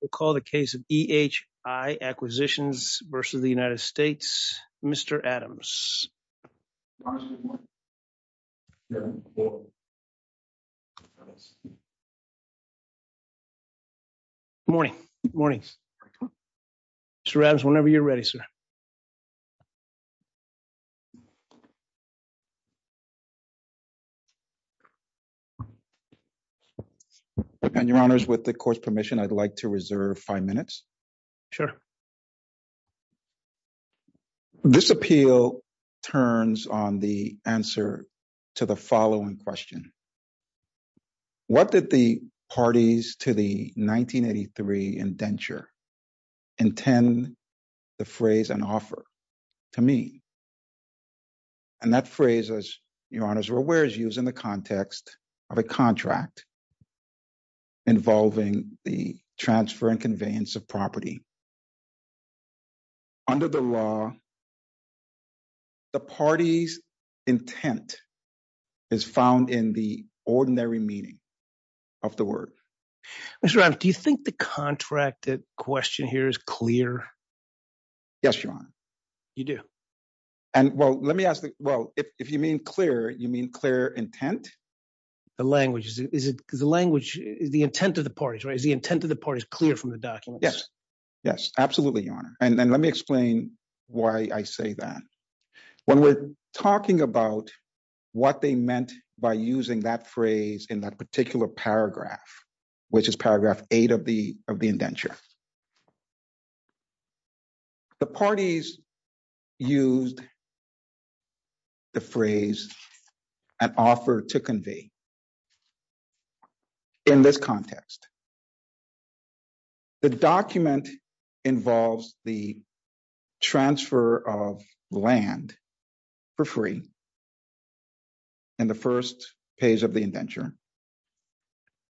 We'll call the case of EHI Acquisitions v. United States, Mr. Adams. Good morning. Good morning. Mr. Adams, whenever you're ready, sir. And your honors, with the court's permission, I'd like to reserve five minutes. Sure. This appeal turns on the answer to the following question. What did the parties to the 1983 indenture intend the phrase and offer to mean? And that phrase, as your honors are aware, is used in the context of a contract involving the transfer and conveyance of property. Under the law, the party's intent is found in the ordinary meaning of the word. Mr. Adams, do you think the contracted question here is clear? Yes, your honor. You do? And well, let me ask, well, if you mean clear, you mean clear intent? The language, is it because the language is the intent of the parties, right? Is the intent of the parties clear from the documents? Yes, absolutely, your honor. And let me explain why I say that. When we're talking about what they meant by using that phrase in that particular paragraph, which is paragraph eight of the indenture, the parties used the phrase and offer to convey. In this context, the document involves the transfer of land for free in the first page of the indenture.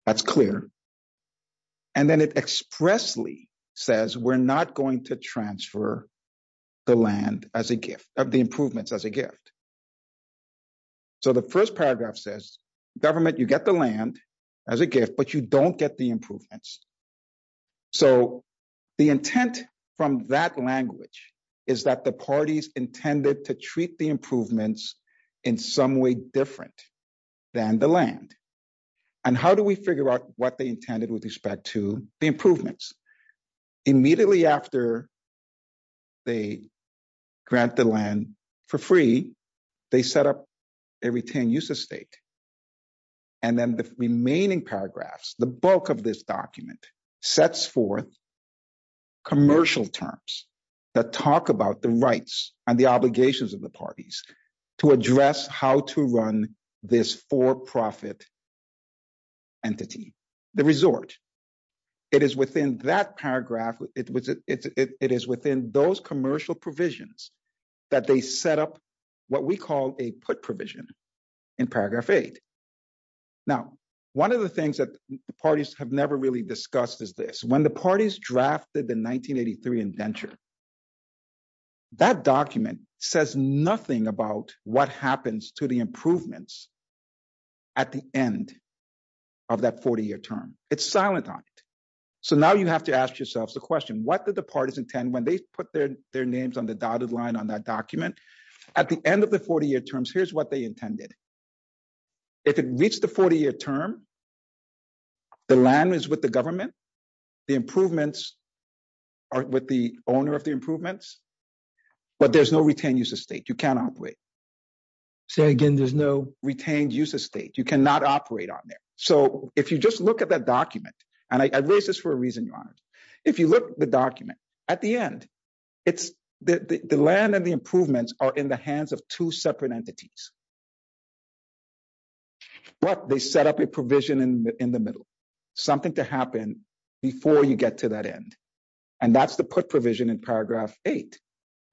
That's clear. And then it expressly says, we're not going to transfer the land as a gift, of the improvements as a gift. So, the first paragraph says government, you get the land as a gift, but you don't get the improvements. So, the intent from that language is that the parties intended to treat the improvements in some way different than the land. And how do we figure out what they intended with respect to the improvements? Immediately after they grant the land for free, they set up a retained use of state. And then the remaining paragraphs, the bulk of this document sets forth commercial terms that talk about the rights and the obligations of the parties to address how to run this for-profit entity, the resort. It is within that paragraph, it is within those commercial provisions that they set up what we call a put provision in paragraph eight. Now, one of the things that the parties have never really discussed is this, when the parties drafted the 1983 indenture, that document says nothing about what happens to the improvements at the end of that 40-year term. It's silent on it. So, now you have to question, what did the parties intend when they put their names on the dotted line on that document? At the end of the 40-year terms, here's what they intended. If it reached the 40-year term, the land is with the government, the improvements are with the owner of the improvements, but there's no retained use of state, you cannot operate. Say again, there's no retained use of state, you cannot operate on there. So, if you just look at that document, and I raise this for reason, Your Honor, if you look at the document, at the end, the land and the improvements are in the hands of two separate entities. But they set up a provision in the middle, something to happen before you get to that end. And that's the put provision in paragraph eight.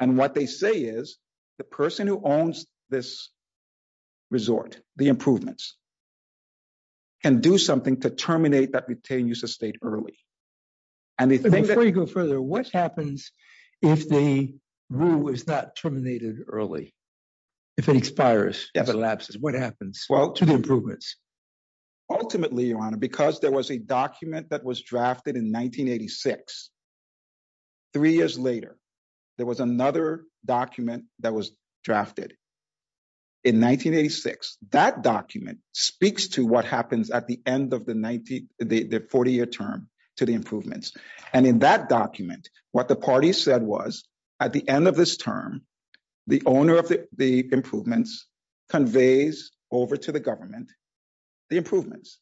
And what they say is, the person who owns this resort, the improvements, can do something to terminate that retained use of state early. Before you go further, what happens if the rule is not terminated early? If it expires, if it lapses, what happens to the improvements? Ultimately, Your Honor, because there was a document that was drafted in 1986, three years later, there was another document that was drafted in 1986. That document speaks to what happens at the end of the 40-year term to the improvements. And in that document, what the party said was, at the end of this term, the owner of the improvements conveys over to the government, the improvements.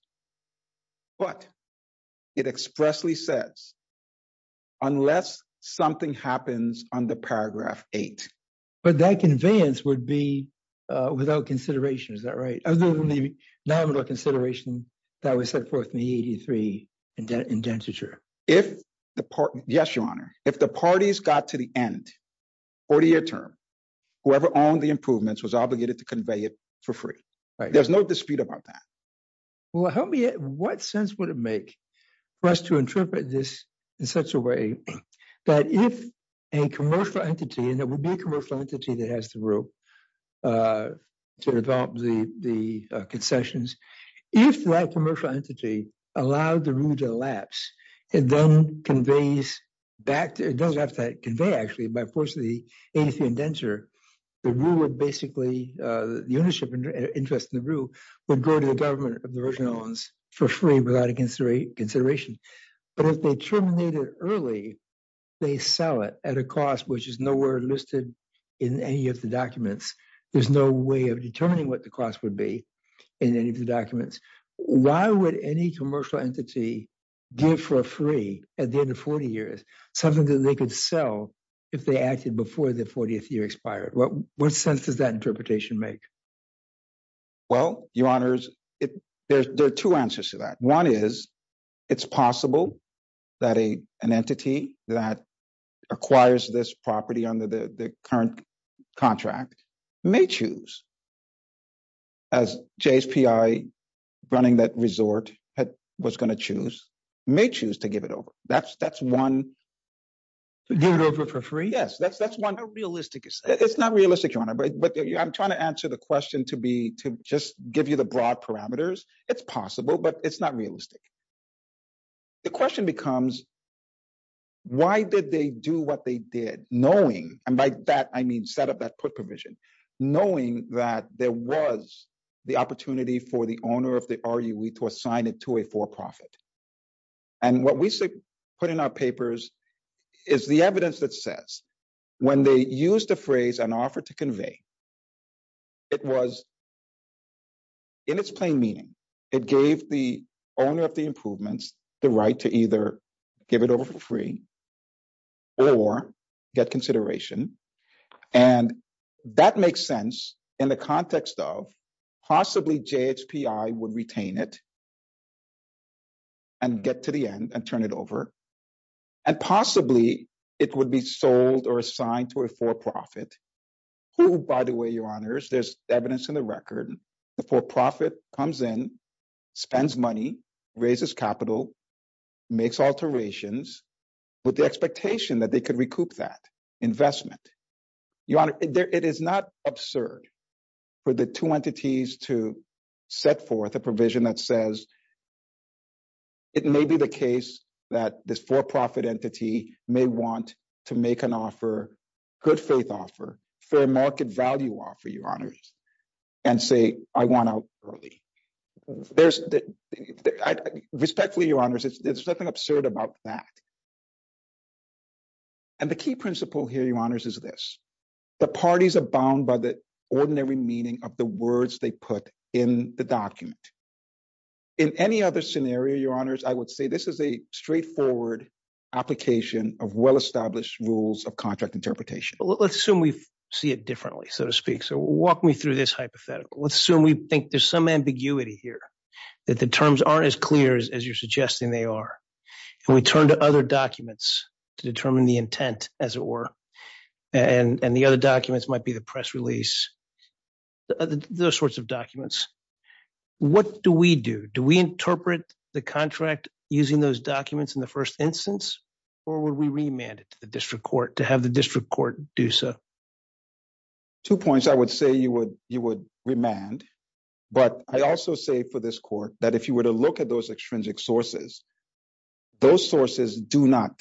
But it expressly says, unless something happens under paragraph eight. But that conveyance would be without consideration, is that right? Other than the nominal consideration that was set forth in the 83 indentiture. Yes, Your Honor. If the parties got to the end, 40-year term, whoever owned the improvements was obligated to convey it for free. There's no dispute about that. Well, help me, what sense would it make for us to interpret this in such a way that if a commercial entity, and it would be a commercial entity that has the rule to develop the concessions, if that commercial entity allowed the rule to lapse, it then conveys back, it doesn't have to convey actually, by force of the 83 indenture, the rule would basically, the ownership interest in the rule would go to the government of the Virgin Islands for free without a consideration. But if they terminate it early, they sell it at a cost which is nowhere listed in any of the documents. There's no way of determining what the cost would be in any of the documents. Why would any commercial entity give for free at the end of 40 years, something that they could sell if they acted before the 40th year expired? What sense does interpretation make? Well, your honors, there are two answers to that. One is, it's possible that an entity that acquires this property under the current contract may choose, as JSPI running that resort was going to choose, may choose to give it over. That's one. Give it over for free? Yes, that's one. How realistic is that? It's not realistic, your honor, but I'm trying to answer the question to be, to just give you the broad parameters. It's possible, but it's not realistic. The question becomes, why did they do what they did knowing, and by that I mean set up that put provision, knowing that there was the opportunity for the owner of the RUE to assign it to a for-profit? And what we put in our papers is the evidence that says when they used the phrase, an offer to convey, it was in its plain meaning. It gave the owner of the improvements the right to either give it over for free or get consideration, and that makes sense in the context of possibly JSPI would retain it and get to the end and turn it over, and possibly it would be sold or assigned to a for-profit, who, by the way, your honors, there's evidence in the record, the for-profit comes in, spends money, raises capital, makes alterations with the expectation that they could recoup that investment. Your honor, it is not absurd for the two entities to set forth a provision that says it may be the case that this for-profit entity may want to make an offer, good faith offer, fair market value offer, your honors, and say, I want out early. Respectfully, your honors, there's nothing absurd about that. And the key principle here, your honors, is this. The parties are bound by the ordinary meaning of the words they put in the document. In any other scenario, your honors, I would say this is a straightforward application of well-established rules of contract interpretation. Let's assume we see it differently, so to speak. So walk me through this hypothetical. Let's assume we think there's some ambiguity here, that the terms aren't as clear as you're suggesting they are, and we turn to other documents to determine the intent, as it were, and the other documents might be the press release, those sorts of documents. What do we do? Do we interpret the contract using those documents in the first instance, or would we remand it to the district court to have the district court do so? Two points I would say you would remand, but I also say for this court that if you were to look at those extrinsic sources, those sources do not,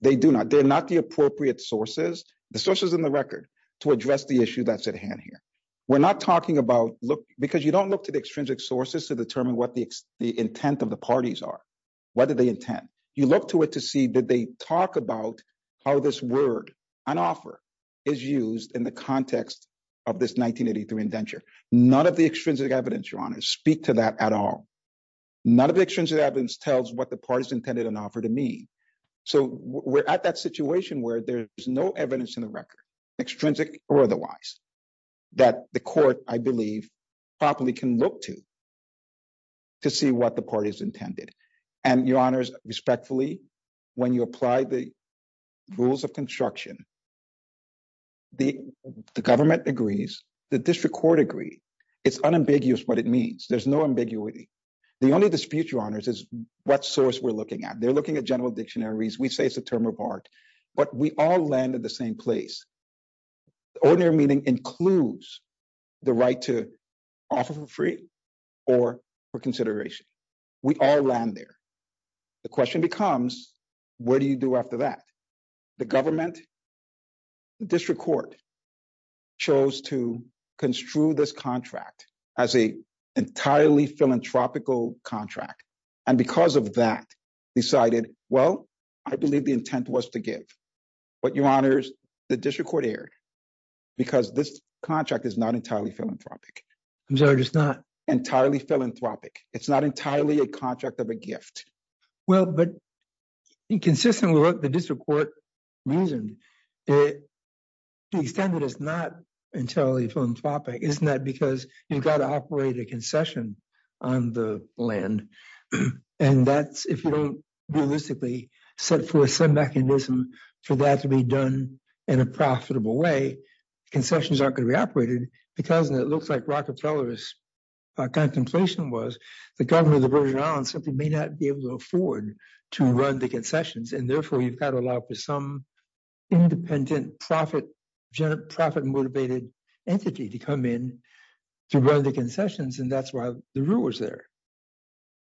they do not, they're not the appropriate sources, the sources in the record, to address the issue that's at hand here. We're not talking about, look, because you don't look to the extrinsic sources to determine what the intent of the parties are. What are they intent? You look to it to see that they talk about how this word, an offer, is used in the context of this 1983 indenture. None of the extrinsic evidence, your honors, speak to that at all. None of the extrinsic evidence tells what the parties intended an offer to mean. So we're at that situation where there's no evidence in the record, extrinsic or otherwise, that the court, I believe, properly can look to to see what the parties intended. And your honors, respectfully, when you apply the rules of construction, the government agrees, the The only dispute, your honors, is what source we're looking at. They're looking at general dictionaries. We say it's a term of art, but we all land in the same place. Ordinary meaning includes the right to offer for free or for consideration. We all land there. The question becomes, what do you do after that? The government, the district court, chose to construe this contract as an entirely philanthropic contract. And because of that, they decided, well, I believe the intent was to give. But, your honors, the district court erred because this contract is not entirely philanthropic. I'm sorry, it's not? Entirely philanthropic. It's not entirely a contract of a gift. Well, but inconsistent with what the district court reasoned, it, to the extent that it's not entirely philanthropic, isn't that because you've got to operate a concession on the land. And that's, if you don't realistically set forth some mechanism for that to be done in a profitable way, concessions aren't going to be operated. Because, and it looks like Rockefeller's contemplation was, the government of the Virgin Islands simply may not be able to afford to run the concessions. And therefore, you've got to allow for some independent profit motivated entity to come in to run the concessions. And that's why the rule was there.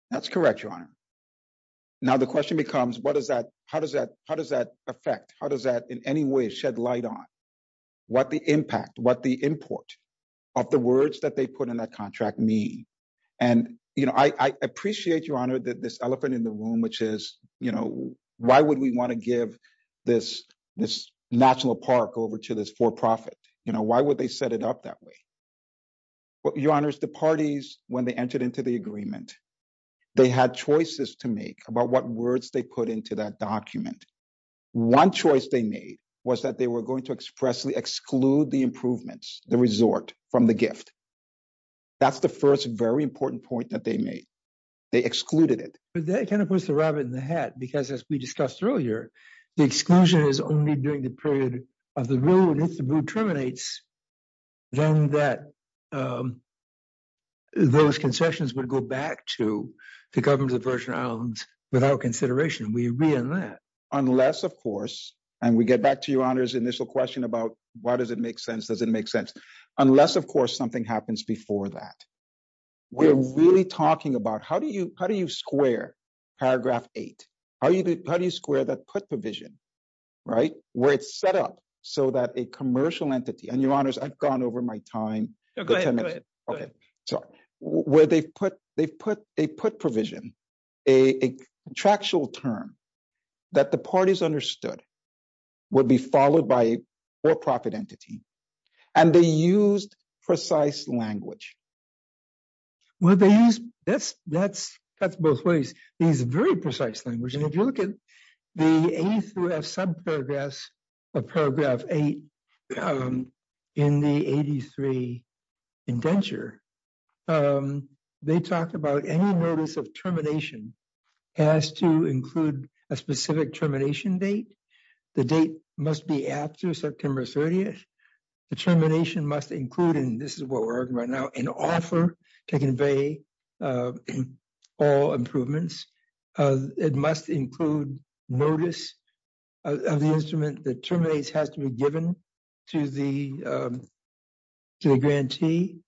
That's correct, your honor. Now the question becomes, what does that, how does that, how does that affect, how does that in any way shed light on what the impact, what the import of the words that they put in that contract mean? And, you know, I appreciate, your honor, that this elephant in the room, which is, you know, why would we want to give this, this National Park over to this for-profit? You know, why would they set it up that way? Your honors, the parties, when they entered into the agreement, they had choices to make about what words they put into that document. One choice they made was that they were going to expressly exclude the improvements, the resort from the gift. That's the first very important point that they made. They excluded it. But that kind of puts the rabbit in the hat, because as we discussed earlier, the exclusion is only during the period of the rule, and if the rule terminates, then that those concessions would go back to the government of the Virgin Islands without consideration. We agree on that. Unless, of course, and we get back to your honor's initial question about why does it make sense? Does it make sense? Unless, of course, something happens before that. We're really talking about how do you square paragraph eight? How do you square that put provision, right? Where it's set up so that a commercial entity, and your honors, I've gone over my time. Go ahead, go ahead. Okay, sorry. Where they've put a put provision, a contractual term that the parties understood would be followed by a for-profit entity, and they used precise language. Well, that's both ways. They used very precise language, and if you look at the A through F subparagraphs of paragraph eight in the 83 indenture, they talked about any notice of termination has to include a specific termination date. The date must be after September 30th. The termination must include, and this is what we're arguing right now, an offer to convey all improvements. It must include notice of the instrument that terminates has to be given to the grantee.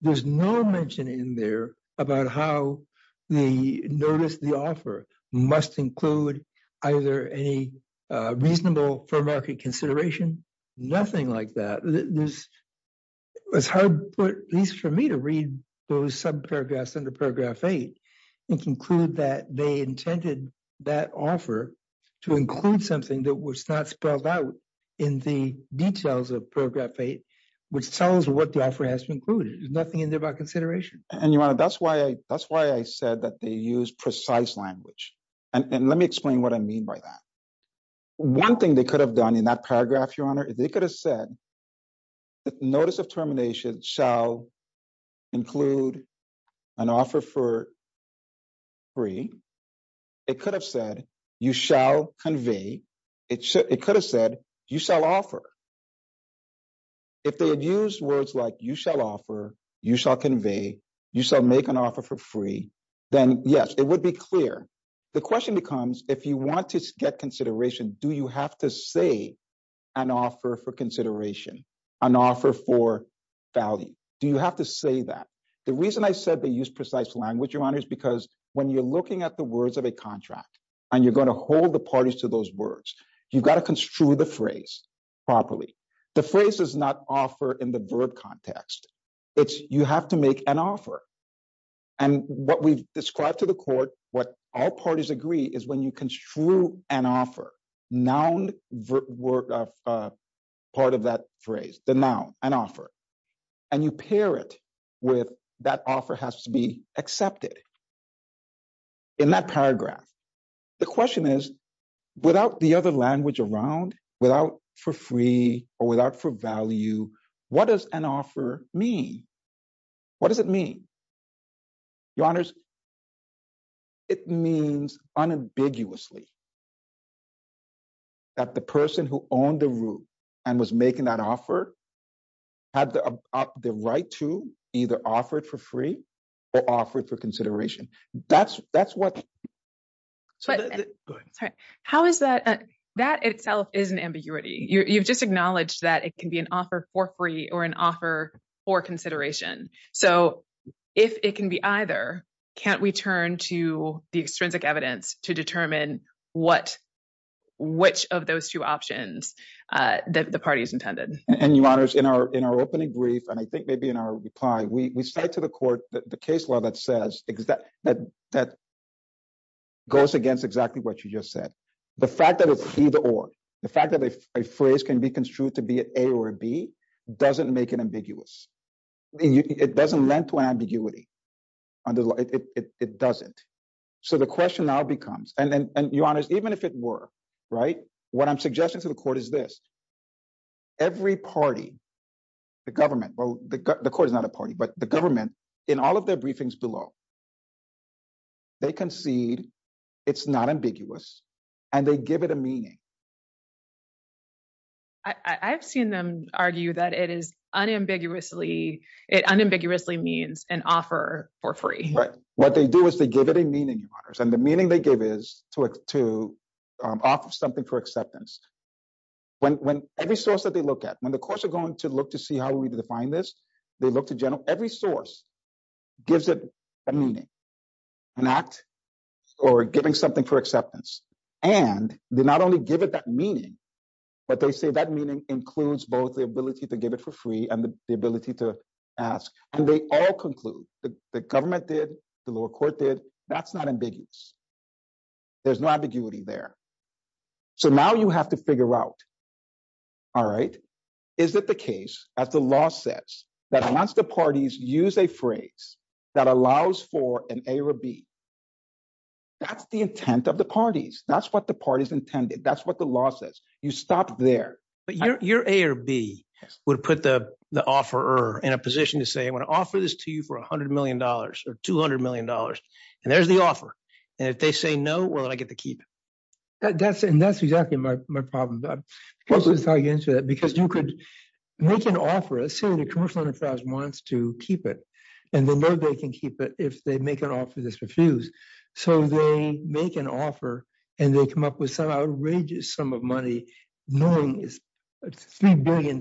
There's no mention in there about how the notice, the offer, must include either any reasonable for market consideration, nothing like that. It's hard, at least for me, to read those subparagraphs under paragraph eight and conclude that they intended that offer to include something that was not spelled out in the details of paragraph eight, which tells what the offer has to include. There's nothing in there about consideration. And your honor, that's why I said that they use precise language. And let me explain what I mean by that. One thing they could have done in that paragraph, your honor, they could have said that notice of termination shall include an offer for free. It could have said you shall convey. It could have said you shall offer. If they had used words like you shall offer, you shall convey, you shall make an offer for free, then yes, it would be clear. The question becomes, if you want to get consideration, do you have to say an offer for consideration, an offer for value? Do you have to say that? The reason I said they use precise language, your honor, is because when you're looking at the words of a contract and you're going to hold the parties to those words, you've got to construe the phrase properly. The phrase is not offer in the verb context. It's you have to make an offer. And what we've described to the court, what all parties agree is when you construe an offer, noun part of that phrase, the noun, an offer, and you pair it with that offer has to be accepted. In that paragraph, the question is, without the other language around, without for free or without for value, what does an offer mean? What does it mean? Your honors, it means unambiguously that the person who owned the room and was making that offer had the right to either offer it for consideration. How is that? That itself is an ambiguity. You've just acknowledged that it can be an offer for free or an offer for consideration. So if it can be either, can't we turn to the extrinsic evidence to determine which of those two options the party's intended? And your honors, in our opening brief, and I think maybe in our reply, we say to the court that the case law that goes against exactly what you just said, the fact that it's either or, the fact that a phrase can be construed to be an A or a B, doesn't make it ambiguous. It doesn't lend to ambiguity. It doesn't. So the question now becomes, and your honors, even if it were, what I'm suggesting to the court is this. Every party, the government, well, the court is not a party, but the government, in all of their briefings below, they concede it's not ambiguous and they give it a meaning. I've seen them argue that it is unambiguously, it unambiguously means an offer for free. Right. What they do is they give it a meaning, your honors, and the meaning they give is to offer something for acceptance. When every source that they look at, when the courts are going to look to see how we define this, they look to general, every source gives it a meaning, an act, or giving something for acceptance. And they not only give it that meaning, but they say that meaning includes both the ability to give it for free and the ability to ask. And they all conclude, the government did, the lower court did, that's not ambiguous. There's no ambiguity there. So now you have to figure out, all right, is it the case, as the law says, that unless the parties use a phrase that allows for an A or B, that's the intent of the parties. That's what the parties intended. That's what the law says. You stop there. But your A or B would put the offeror in a position to say, I want to offer this to you $100 million or $200 million. And there's the offer. And if they say no, well, then I get to keep it. And that's exactly my problem. Because you could make an offer, say the commercial enterprise wants to keep it, and they know they can keep it if they make an offer that's refused. So they make an offer, and they come up with some outrageous sum of money, knowing it's $3 billion,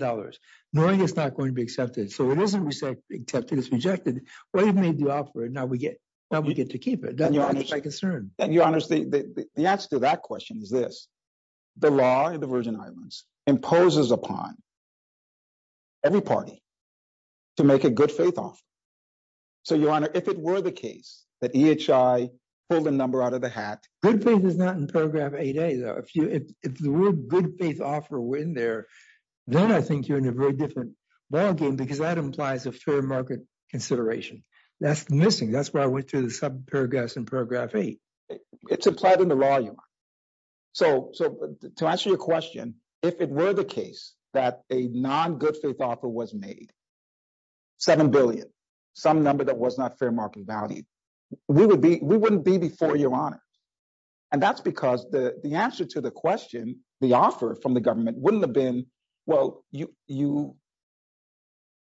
knowing it's not going to be accepted. So it isn't accepted, it's rejected. Well, you've made the offer, and now we get to keep it. That's my concern. And your Honor, the answer to that question is this. The law in the Virgin Islands imposes upon every party to make a good faith offer. So your Honor, if it were the case that EHI pulled a number out of the hat. Good faith is not in paragraph 8A, though. If the real good faith offer were in there, then I think you're in a very different ballgame, because that implies a fair market consideration. That's missing. That's where I went to the sub-paragraphs in paragraph 8. It's implied in the law, your Honor. So to answer your question, if it were the case that a non-good faith offer was made, $7 billion, some number that was not fair market value, we wouldn't be before your Honor. And that's because the answer to the question, the offer from the government, wouldn't have been, well, you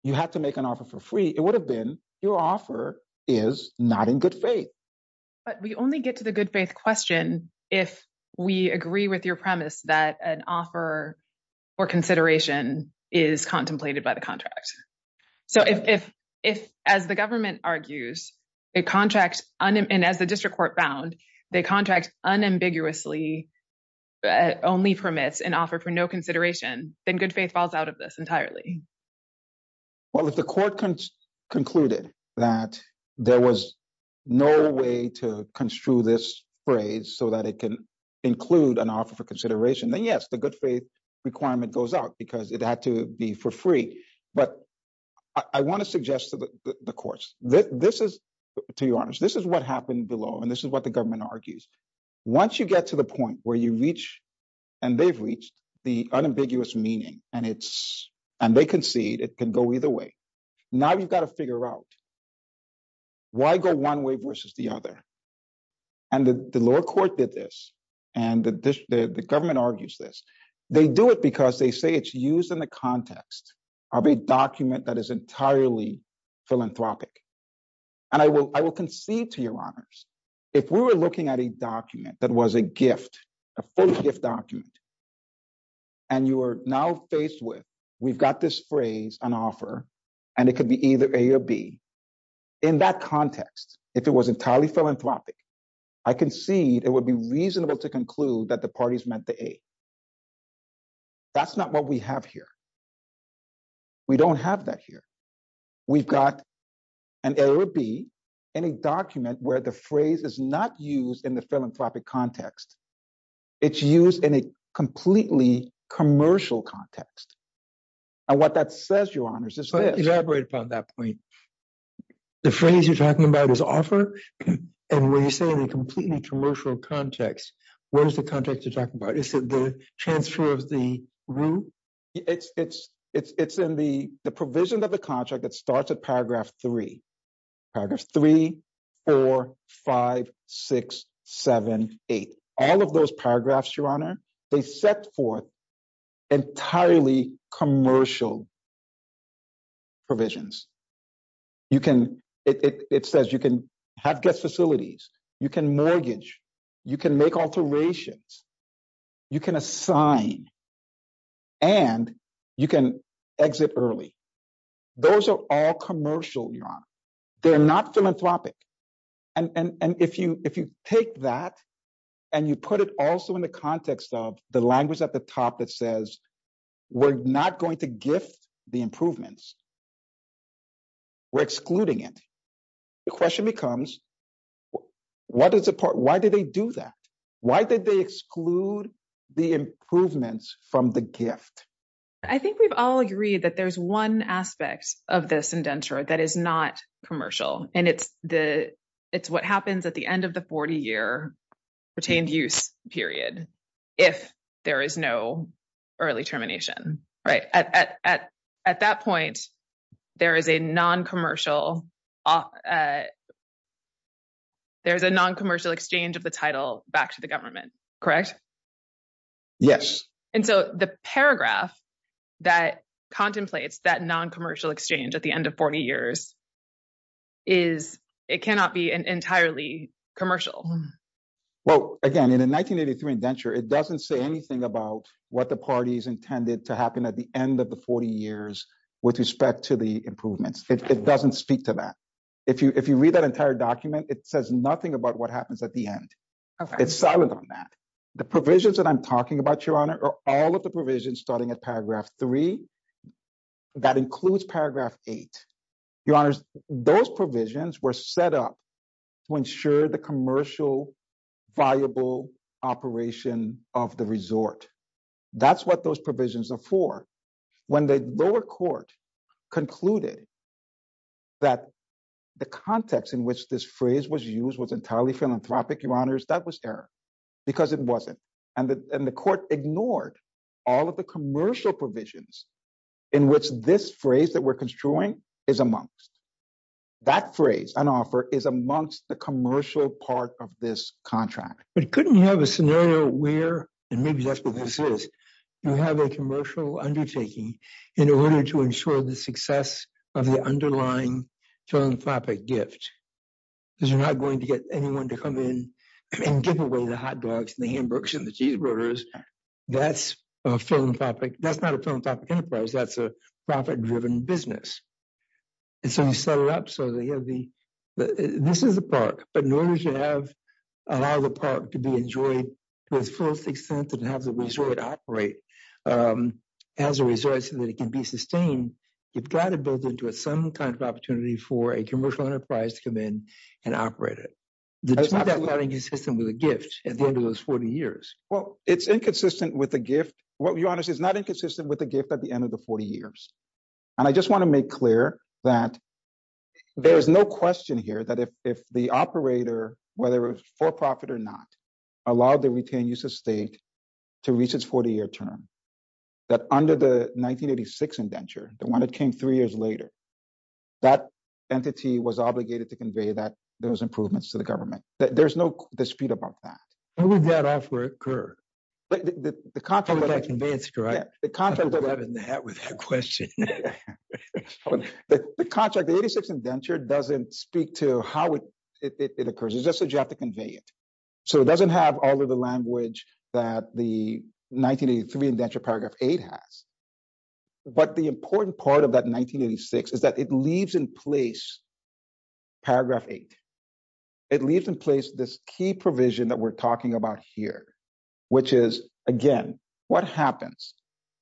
have to make an offer for free. It would have been, your offer is not in good faith. But we only get to the good faith question if we agree with your premise that an offer for consideration is contemplated by the contract. So if, as the government argues, a contract, and as the district court found, the contract unambiguously only permits an offer for no consideration, then good faith falls out of this entirely. Well, if the court concluded that there was no way to construe this phrase so that it can include an offer for consideration, then yes, the good faith requirement goes out, because it had to be for free. But I want to suggest to the courts, this is, to your Honor, this is what happened below, and this is what the government argues. Once you get to the point where you reach, and they've reached, the unambiguous meaning, and they concede it can go either way, now you've got to figure out why go one way versus the other. And the lower court did this, and the government argues this. They do it because they say it's used in the context of a document that is entirely philanthropic. And I will concede to your Honors, if we were looking at a document that was a gift, a full gift document, and you are now faced with, we've got this phrase, an offer, and it could be either A or B, in that context, if it was entirely philanthropic, I concede it would be reasonable to conclude that the parties meant the A. That's not what we have here. We don't have that here. We've got an error B in a document where the phrase is not used in the philanthropic context. It's used in a completely commercial context. And what that says, your Honors, is this. To elaborate upon that point, the phrase you're talking about is offer, and when you say in a completely commercial context, what is the context you're talking about? Is it the transfer of the root? It's in the provision of the contract that starts at paragraph three. Paragraph three, four, five, six, seven, eight. All of those paragraphs, your Honor, they set forth entirely commercial provisions. It says you can have guest facilities, you can mortgage, you can make alterations, you can assign, and you can exit early. Those are all commercial, your Honor. They're not philanthropic. And if you take that and you put it also in the context of the language at the top that says we're not going to gift the improvements, we're excluding it. The question becomes, why did they do that? Why did they exclude the improvements from the gift? I think we've all agreed that there's one aspect of this indenture that is not commercial, and it's what happens at the end of the 40-year retained use period if there is no early termination. At that point, there is a non-commercial exchange of the title back to the government, correct? Yes. And so the paragraph that contemplates that non-commercial exchange at the end of 40 years is, it cannot be entirely commercial. Well, again, in 1983 indenture, it doesn't say anything about what the parties intended to happen at the end of the 40 years with respect to the improvements. It doesn't speak to that. If you read that entire document, it says nothing about what happens at the end. It's silent on that. The provisions that I'm talking about, your Honor, are all of the those provisions were set up to ensure the commercial, viable operation of the resort. That's what those provisions are for. When the lower court concluded that the context in which this phrase was used was entirely philanthropic, your Honors, that was error, because it wasn't. And the court ignored all of the commercial provisions in which this phrase that we're that phrase on offer is amongst the commercial part of this contract. But couldn't you have a scenario where, and maybe that's what this is, you have a commercial undertaking in order to ensure the success of the underlying philanthropic gift? Because you're not going to get anyone to come in and give away the hot dogs and the hamburgers and the cheeseburgers. That's a philanthropic, that's not a philanthropic enterprise. That's a profit-driven business. And so you set it up so that you have the, this is the park. But in order to have, allow the park to be enjoyed to its fullest extent, and have the resort operate as a resort so that it can be sustained, you've got to build into it some kind of opportunity for a commercial enterprise to come in and operate it. That's not inconsistent with a gift at the end of those 40 years. Well, it's inconsistent with a gift. What, your Honors, is not inconsistent with a gift at the end of the 40 years. And I just want to make clear that there is no question here that if the operator, whether it was for profit or not, allowed the retained use of state to reach its 40-year term, that under the 1986 indenture, the one that came three years later, that entity was obligated to convey that there was improvements to the government. There's no dispute about that. How would that offer occur? The contract, the 86 indenture doesn't speak to how it occurs. It's just that you have to convey it. So it doesn't have all of the language that the 1983 indenture paragraph 8 has. But the important part of that 1986 is that it leaves in place paragraph 8. It leaves in place this key provision that we're talking about here, which is, again, what happens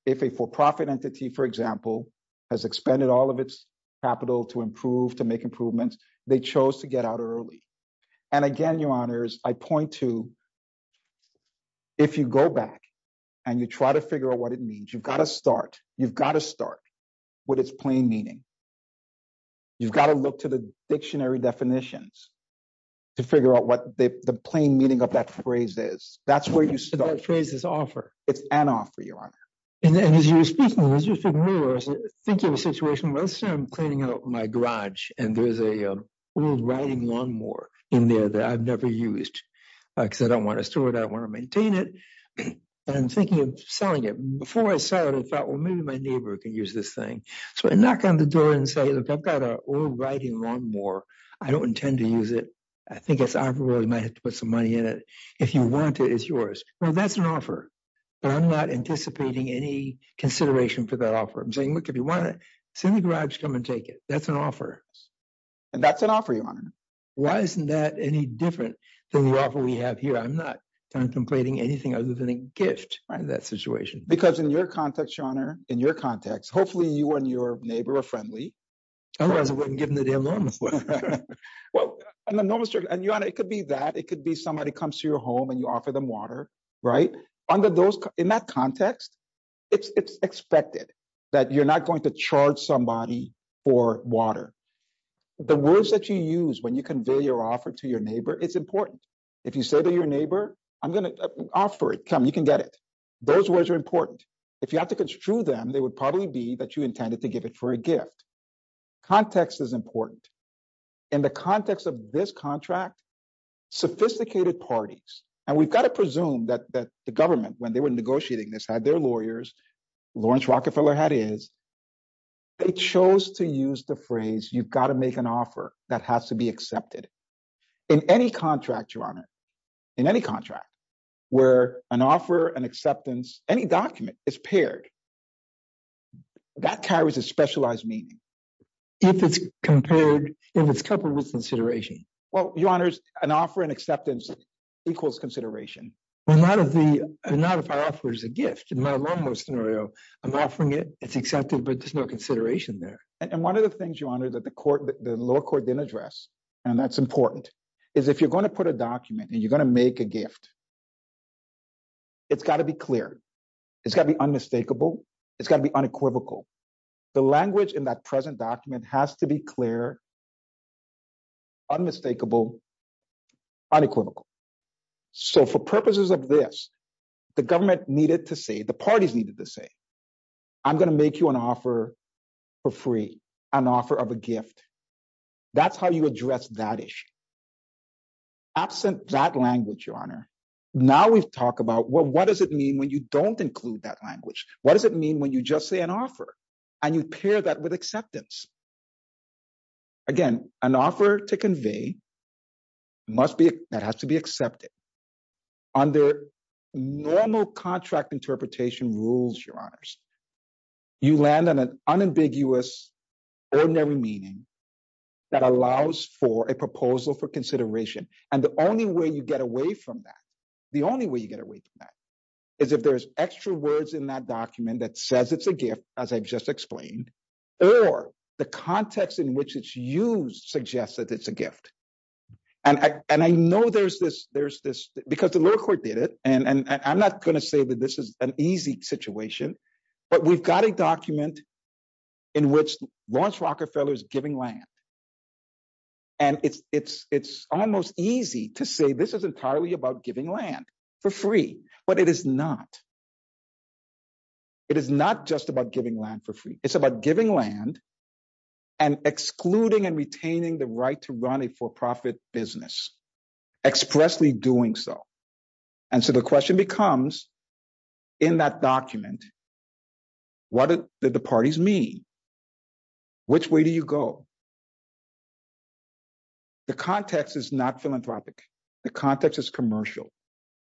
if a for-profit entity, for example, has expended all of its capital to improve, to make improvements, they chose to get out early. And again, your Honors, I point to, if you go back and you try to figure out what it means, you've got to start. You've got to start with its plain meaning. You've got to look to the dictionary definitions to figure out what the plain meaning of that phrase is. That's where you start. That phrase is offer. It's an offer, Your Honor. And as you were speaking, as you were speaking earlier, I was thinking of a situation. Let's say I'm cleaning out my garage and there's an old riding lawnmower in there that I've never used because I don't want to store it. I want to maintain it. And I'm thinking of selling it. Before I sell it, I thought, well, maybe my neighbor can use this thing. So I knock on the lawnmower. I don't intend to use it. I think it's honorable. I might have to put some money in it. If you want it, it's yours. Well, that's an offer, but I'm not anticipating any consideration for that offer. I'm saying, look, if you want it, send the garage, come and take it. That's an offer. And that's an offer, Your Honor. Why isn't that any different than the offer we have here? I'm not contemplating anything other than a gift in that situation. Because in your context, Your Honor, in your context, hopefully you and your neighbor are Otherwise, I wouldn't give him the damn lawnmower. Well, Your Honor, it could be that. It could be somebody comes to your home and you offer them water, right? In that context, it's expected that you're not going to charge somebody for water. The words that you use when you convey your offer to your neighbor, it's important. If you say to your neighbor, I'm going to offer it, come, you can get it. Those words are important. If you have to construe them, they would probably be that you intended to give it for a gift. Context is important. In the context of this contract, sophisticated parties, and we've got to presume that the government, when they were negotiating this, had their lawyers, Lawrence Rockefeller had his, they chose to use the phrase, you've got to make an offer that has to be accepted. In any contract, Your Honor, in any contract, where an offer, an acceptance, any document is compared, that carries a specialized meaning. If it's compared, if it's coupled with consideration. Well, Your Honor, an offer and acceptance equals consideration. Well, not if the, not if I offer a gift. In my lawnmower scenario, I'm offering it, it's accepted, but there's no consideration there. And one of the things, Your Honor, that the court, the lower court didn't address, and that's important, is if you're going to put a document and you're going to make a gift, it's got to be clear. It's got to be unmistakable. It's got to be unequivocal. The language in that present document has to be clear, unmistakable, unequivocal. So for purposes of this, the government needed to say, the parties needed to say, I'm going to make you an offer for free, an offer of a gift. That's how you address that issue. Absent that language, Your Honor, now we've talked about, well, what does it mean when you don't include that language? What does it mean when you just say an offer and you pair that with acceptance? Again, an offer to convey must be, that has to be accepted. Under normal contract interpretation rules, Your Honors, you land on an unambiguous, ordinary meaning that allows for proposal for consideration. And the only way you get away from that, the only way you get away from that is if there's extra words in that document that says it's a gift, as I've just explained, or the context in which it's used suggests that it's a gift. And I know there's this, because the lower court did it, and I'm not going to say that this is an easy situation, but we've got a document in which Lawrence Rockefeller is giving land. And it's almost easy to say this is entirely about giving land for free, but it is not. It is not just about giving land for free. It's about giving land and excluding and retaining the right to run a for-profit business, expressly doing so. And so the question becomes, in that document, what did the parties mean? Which way do you go? The context is not philanthropic. The context is commercial.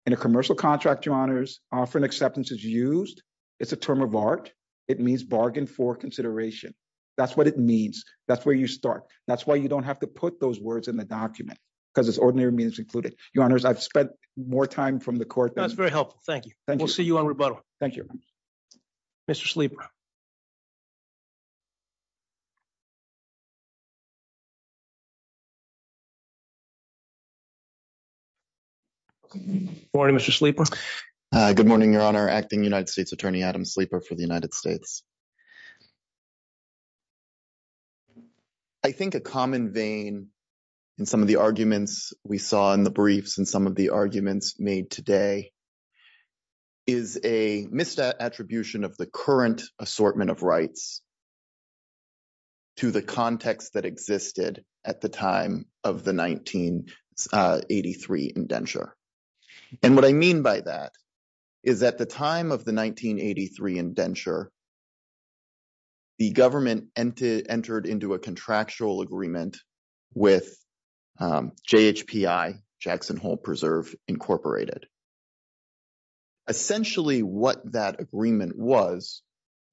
In a commercial contract, Your Honors, offer and acceptance is used. It's a term of art. It means bargain for consideration. That's what it means. That's where you start. That's why you don't have to put those words in the document, because it's ordinary means included. Your Honors, I've spent more time from the court. That's very helpful. Thank you. Thank you. We'll see you on rebuttal. Thank you. Mr. Sleeper. Good morning, Mr. Sleeper. Good morning, Your Honor. Acting United States Attorney Adam Sleeper for the United States. I think a common vein in some of the arguments we saw in the briefs and some of the arguments made today is a misattribution of the current assortment of rights to the context that existed at the time of the 1983 indenture. And what I mean by that is at the time of the 1983 indenture, the government entered into a contractual agreement with JHPI, Jackson Hole Preserve, Incorporated. Essentially, what that agreement was,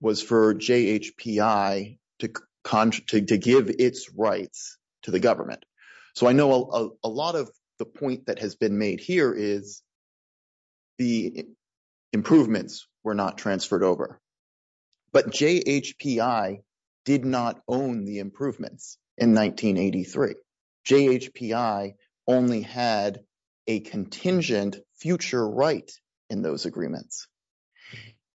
was for JHPI to give its rights to the government. So I know a lot of the point that has been made here is the improvements were not transferred over. But JHPI did not own the improvements in 1983. JHPI only had a contingent future right in those agreements.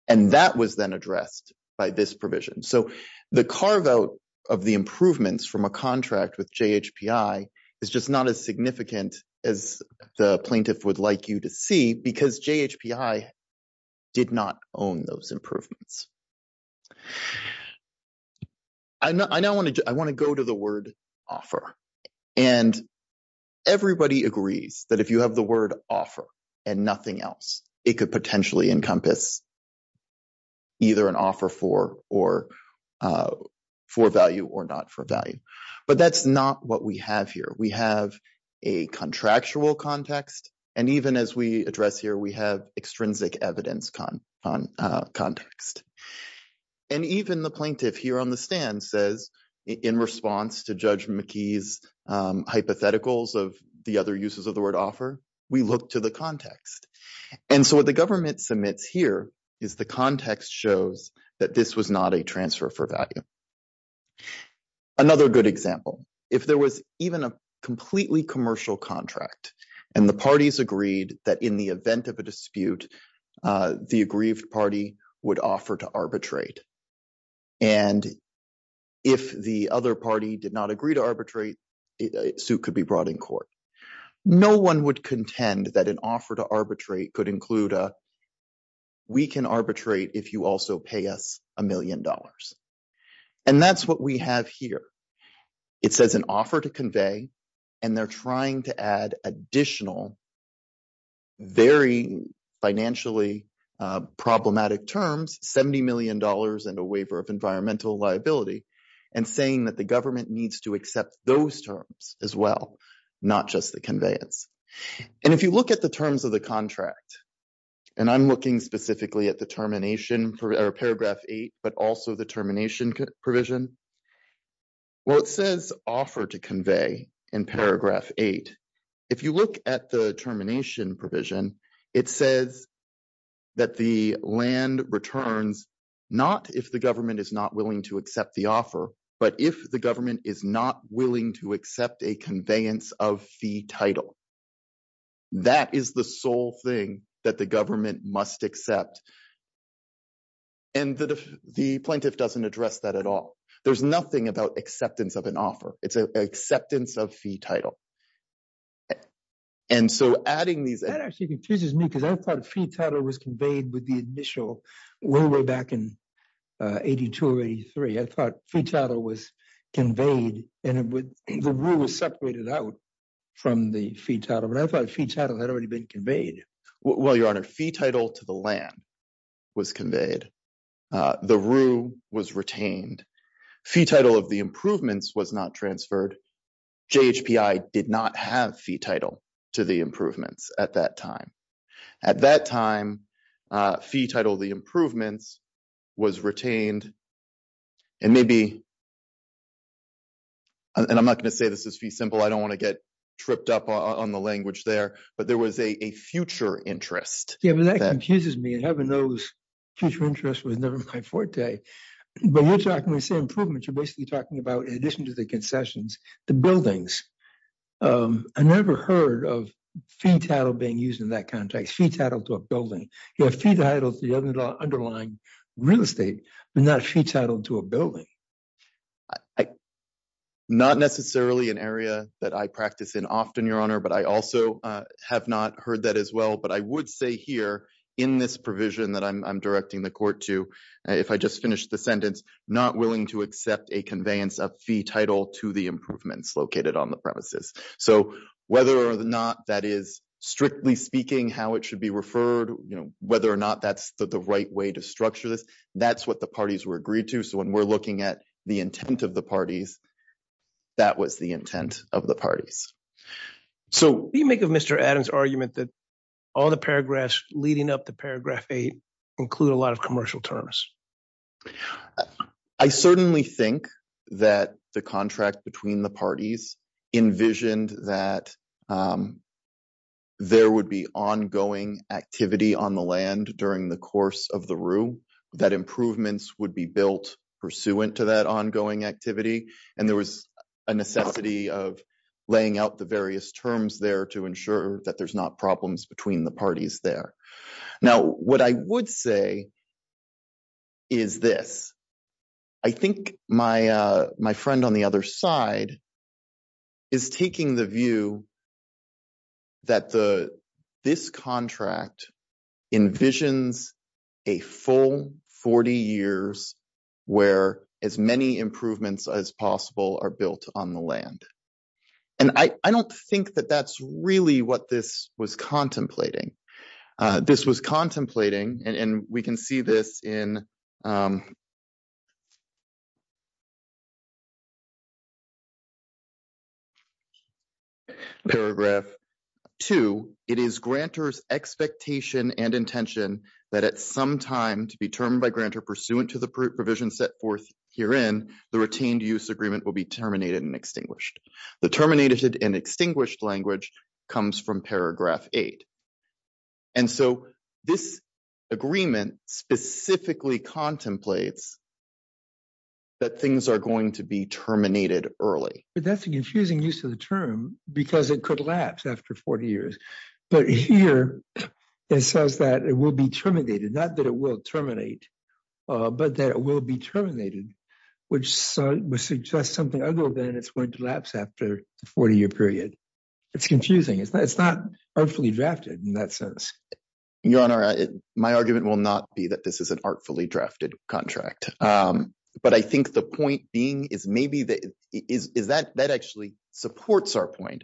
And that was then addressed by this provision. So the carve out of the improvements from a contract with JHPI is just not as significant as the plaintiff would like you to see because JHPI did not own those improvements. I want to go to the word offer. And everybody agrees that if you have the word offer and nothing else, it could potentially encompass either an offer for value or not for value. But that's not what we have here. We have a contractual context. And even as we address here, we have extrinsic evidence context. And even the plaintiff here on the stand says, in response to Judge McKee's hypotheticals of the other uses of the word offer, we look to the context. And so what the government submits here is the context shows that this was not a transfer for value. Another good example, if there was even a completely commercial contract, and the parties agreed that in the event of a dispute, the aggrieved party would offer to arbitrate. And if the other party did not agree to arbitrate, a suit could be brought in court. No one would contend that an offer to arbitrate could include a, we can arbitrate if you also pay us a million dollars. And that's what we have here. It says an offer to convey, and they're trying to add additional, very financially problematic terms, $70 million and a waiver of environmental liability, and saying that the conveyance is not just the conveyance. And if you look at the terms of the contract, and I'm looking specifically at the termination or paragraph eight, but also the termination provision. Well, it says offer to convey in paragraph eight. If you look at the termination provision, it says that the land returns, not if the government is not willing to accept the offer, but if the government is not willing to accept a conveyance of fee title, that is the sole thing that the government must accept. And the plaintiff doesn't address that at all. There's nothing about acceptance of an offer. It's an acceptance of fee title. And so adding these... That actually confuses me because I thought fee title was conveyed with the rule was separated out from the fee title, but I thought fee title had already been conveyed. Well, your honor, fee title to the land was conveyed. The rule was retained. Fee title of the improvements was not transferred. JHPI did not have fee title to the improvements at that time. At that time, fee title of the improvements was retained and maybe... And I'm not going to say this is fee simple. I don't want to get tripped up on the language there, but there was a future interest. Yeah, but that confuses me. Heaven knows future interest was never my forte. But you're talking, when you say improvements, you're basically talking about, in addition to the concessions, the buildings. I never heard of fee title being used in that context, fee title to a building. You have fee title to the underlying real estate, but not fee title to a building. Not necessarily an area that I practice in often, your honor, but I also have not heard that as well. But I would say here in this provision that I'm directing the court to, if I just finished the sentence, not willing to accept a conveyance of fee title to the improvements located on the premises. So whether or not that is, strictly speaking, how it should be referred, whether or not that's the right way to structure this, that's what the parties were agreed to. So when we're looking at the intent of the parties, that was the intent of the parties. So... What do you make of Mr. Adams' argument that all the paragraphs leading up to paragraph eight include a lot of commercial terms? I certainly think that the contract between the parties envisioned that there would be ongoing activity on the land during the course of the room, that improvements would be built pursuant to that ongoing activity. And there was a necessity of laying out the between the parties there. Now, what I would say is this. I think my friend on the other side is taking the view that this contract envisions a full 40 years where as many improvements as possible are built on the land. And I don't think that that's really what this was contemplating. This was contemplating, and we can see this in paragraph two, it is grantor's expectation and intention that at some time to be termed by will be terminated and extinguished. The terminated and extinguished language comes from paragraph eight. And so this agreement specifically contemplates that things are going to be terminated early. That's a confusing use of the term because it could lapse after 40 years. But here it says that it will be terminated, not that it will terminate, but that it will be terminated, which would suggest something other than it's going to lapse after the 40 year period. It's confusing. It's not artfully drafted in that sense. Your Honor, my argument will not be that this is an artfully drafted contract. But I think the point being is maybe that actually supports our point.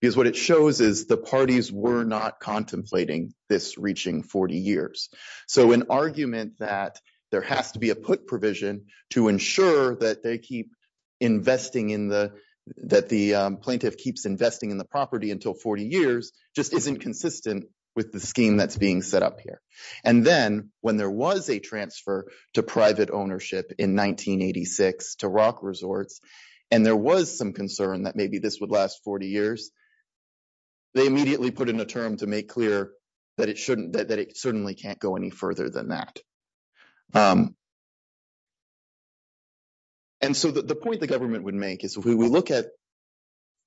Because what it shows is the parties were contemplating this reaching 40 years. So an argument that there has to be a put provision to ensure that the plaintiff keeps investing in the property until 40 years just isn't consistent with the scheme that's being set up here. And then when there was a transfer to private ownership in 1986 to Rock Resorts, and there was some concern that maybe this would last 40 years, they immediately put in a term to make clear that it certainly can't go any further than that. And so the point the government would make is if we look at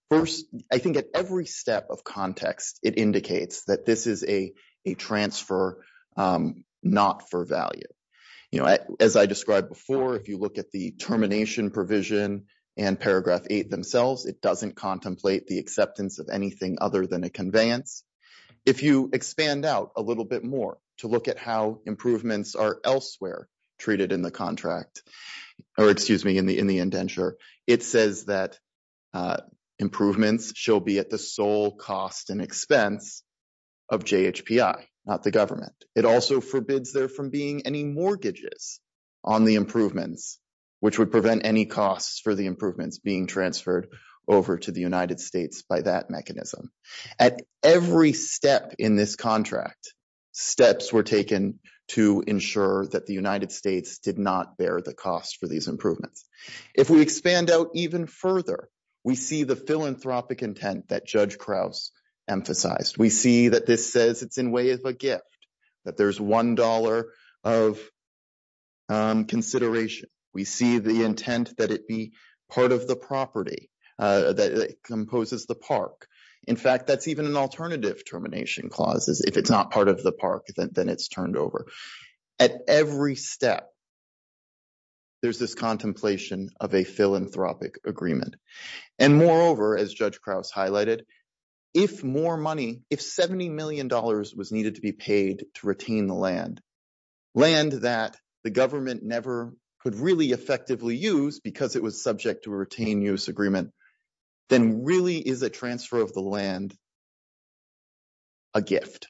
first, I think at every step of context, it indicates that this is a transfer not for value. As I described before, if you look at termination provision and paragraph eight themselves, it doesn't contemplate the acceptance of anything other than a conveyance. If you expand out a little bit more to look at how improvements are elsewhere treated in the contract, or excuse me, in the indenture, it says that improvements shall be at the sole cost and expense of JHPI, not the government. It also forbids there from being any mortgages on the improvements, which would prevent any costs for the improvements being transferred over to the United States by that mechanism. At every step in this contract, steps were taken to ensure that the United States did not bear the cost for these improvements. If we expand out even further, we see the philanthropic intent that Crouse emphasized. We see that this says it's in way of a gift, that there's $1 of consideration. We see the intent that it be part of the property, that it composes the park. In fact, that's even an alternative termination clause is if it's not part of the park, then it's turned over. At every step, there's this contemplation of a philanthropic agreement. Moreover, as Judge Crouse highlighted, if more money, if $70 million was needed to be paid to retain the land, land that the government never could really effectively use because it was subject to a retained use agreement, then really is a transfer of the land a gift,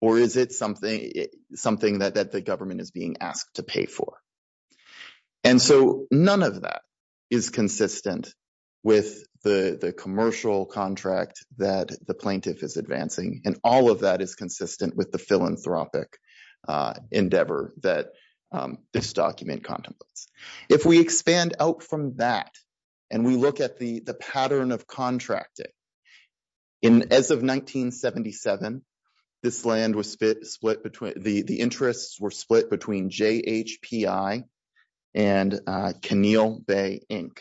or is it something that the government is being asked to pay for? And so none of that is consistent with the commercial contract that the plaintiff is advancing, and all of that is consistent with the philanthropic endeavor that this document contemplates. If we expand out from that, and we look at the pattern of contracting, in as of 1977, the interests were split between JHPI and Coneal Bay, Inc.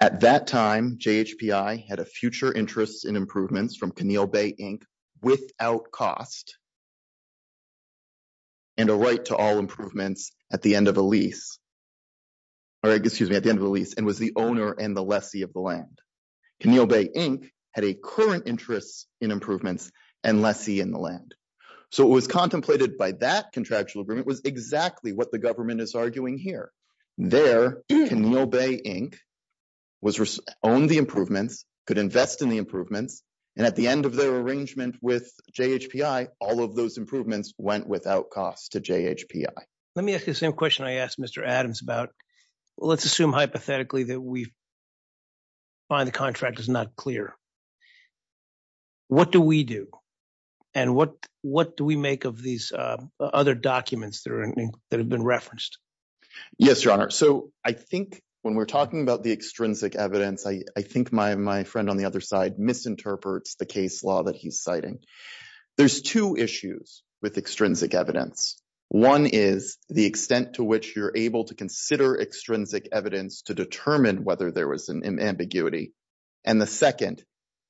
At that time, JHPI had a future interest in improvements from Coneal Bay, Inc. without cost and a right to all improvements at the end of a lease, or excuse me, at the end of the lease, and was the owner and the lessee of the land. Coneal Bay, Inc. had a current interest in improvements and lessee in the land. So it was contemplated by that contractual agreement was exactly what the government is arguing here. There, Coneal Bay, Inc. owned the improvements, could invest in the improvements, and at the end of their arrangement with JHPI, all of those improvements went without cost to JHPI. Let me ask the same question I asked Mr. Adams about, let's assume hypothetically that we find the contract is not clear. What do we do? And what do we make of these other documents that have been referenced? Yes, Your Honor. So I think when we're talking about the extrinsic evidence, I think my friend on the other side misinterprets the case law that he's citing. There's two issues with extrinsic evidence. One is the extent to which you're able to consider extrinsic evidence to determine whether there was an ambiguity, and the second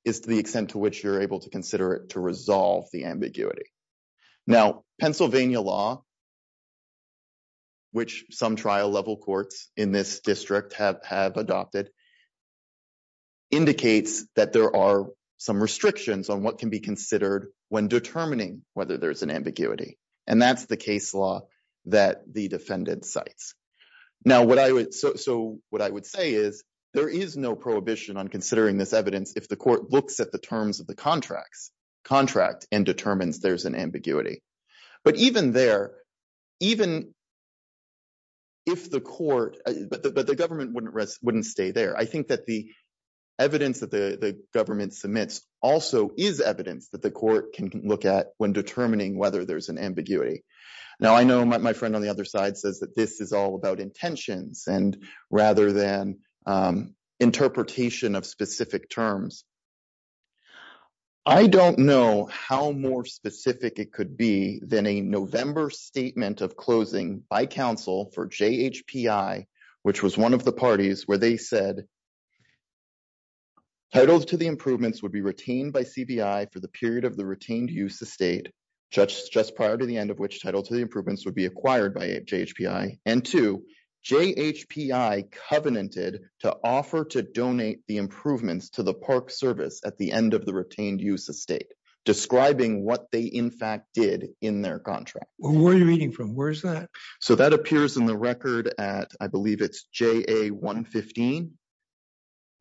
is the extent to which you're able to consider it to resolve the ambiguity. Now, Pennsylvania law, which some trial level courts in this district have adopted, indicates that there are some restrictions on what can be considered when determining whether there's an ambiguity, and that's the case law that the defendant cites. So what I would say is there is no prohibition on considering this evidence if the court looks at the terms of the contract and determines there's an ambiguity. But even there, but the government wouldn't stay there. I think that the evidence that the government submits also is evidence that the court can look at when determining whether there's an ambiguity. Now, I know my friend on the other side says that this is all about intentions and rather than interpretation of specific terms. I don't know how more specific it could be than a November statement of closing by counsel for JHPI, which was one of the parties where they said, titles to the improvements would be retained by CBI for the period of the retained use of state, just prior to the end of which title to the improvements would be acquired by JHPI, and two, JHPI covenanted to offer to donate the improvements to the park service at the end of the retained use of state, describing what they in fact did in their contract. Well, where are you reading from? Where is that? So that appears in the record at, I believe it's JA 115,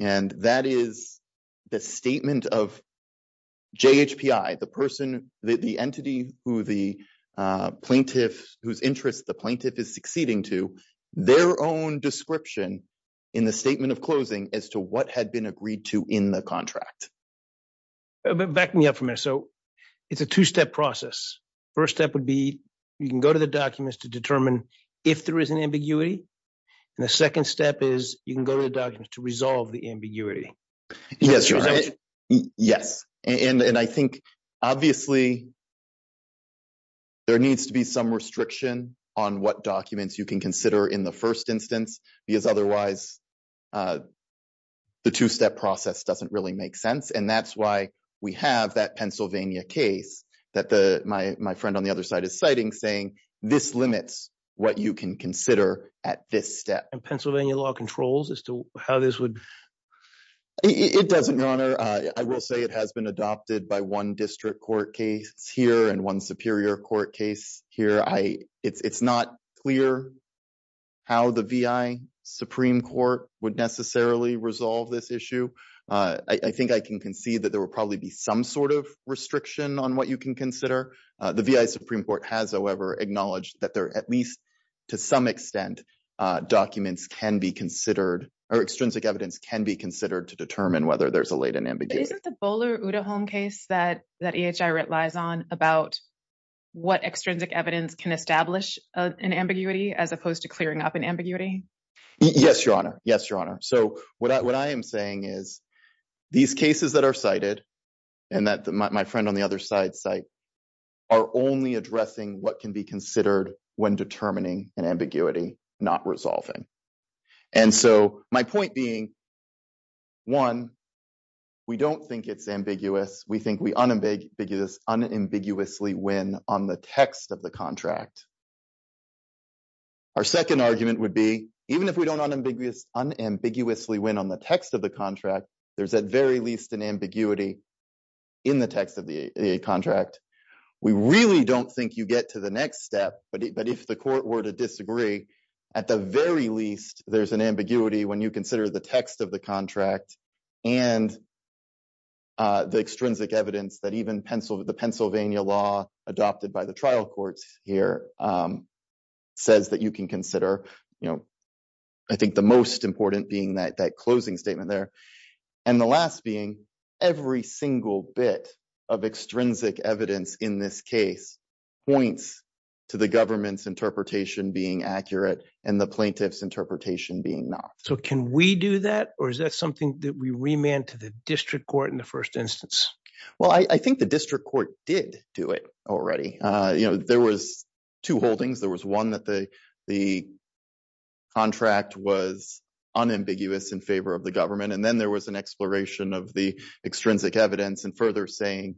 and that is the statement of JHPI, the person, the entity who the plaintiff, whose interest the plaintiff is succeeding to, their own description in the statement of closing as to what had been agreed to in the contract. Back me up for a minute. So it's a two-step process. First step would be you can go to the documents to determine if there is an ambiguity. And the second step is you can go to the documents to resolve the ambiguity. Yes. Yes. And I think obviously there needs to be some restriction on what documents you can consider in the first instance, because otherwise the two-step process doesn't really make sense. And that's why we have that Pennsylvania case that my friend on the other side is citing saying this limits what you can consider at this step. And Pennsylvania law controls as to how this would. It doesn't, your honor. I will say it has been adopted by one district court case here and one superior court case here. It's not clear how the VI Supreme Court would necessarily resolve this issue. I think I can concede that there will probably be some sort of restriction on what you can consider. The VI Supreme Court has, however, acknowledged that there at least to some extent documents can be considered or extrinsic evidence can be considered to determine whether there's a latent ambiguity. Isn't the Bowler-Udahome case that EHI relies on about what extrinsic evidence can establish an ambiguity as opposed to clearing up an ambiguity? Yes, your honor. Yes, your honor. So what I am saying is these cases that are cited and that my friend on the other side cite are only addressing what can be considered when determining an ambiguity, not resolving. And so my point being, one, we don't think it's ambiguous. We think we unambiguous unambiguously win on the text of the contract. Our second argument would be even if we don't unambiguously win on the text of the contract, there's at very least an ambiguity in the text of the contract. We really don't think you get to the next step. But if the court were to disagree, at the very least, there's an ambiguity when you consider the text of the contract and the extrinsic evidence that even the Pennsylvania law adopted by the trial courts here says that you can consider. I think the most important being that closing statement there. And the last being every single bit of extrinsic evidence in this case points to the government's interpretation being accurate and the plaintiff's interpretation being not. So can we do that? Or is that something that we remand to the district court in the first instance? Well, I think the district court did do it already. You know, there was two holdings. There was one that the contract was unambiguous in favor of the government. And then there was an exploration of the extrinsic evidence and further saying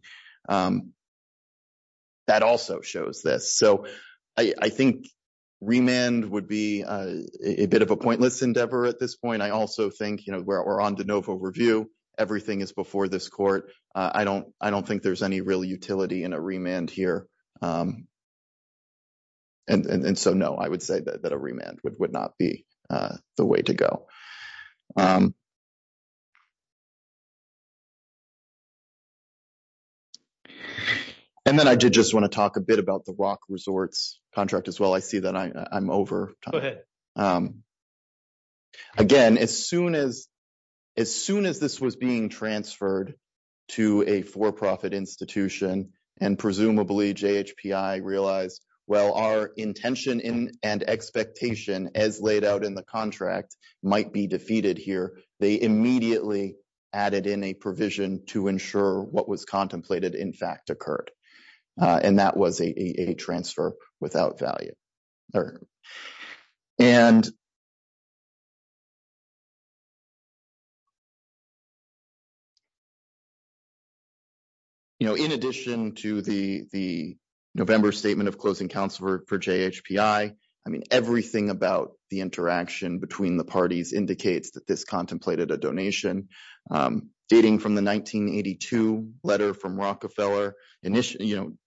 that also shows this. So I think remand would be a bit of a pointless endeavor at this point. I also think, you know, we're on de novo review. Everything is before this court. I don't think there's any real utility in a remand here. And so no, I would say that a remand would not be the way to go. And then I did just want to talk a bit about the rock resorts contract as well. I see that I'm over time. Again, as soon as this was being transferred to a for-profit institution and presumably JHPI realized, well, our intention and expectation as laid out in the contract might be defeated here. They immediately added in a provision to ensure what was contemplated in fact occurred. And that was a transfer without value. All right. And you know, in addition to the November statement of closing counselor for JHPI, I mean, everything about the interaction between the parties indicates that this contemplated a donation dating from the 1982 letter from Rockefeller initiating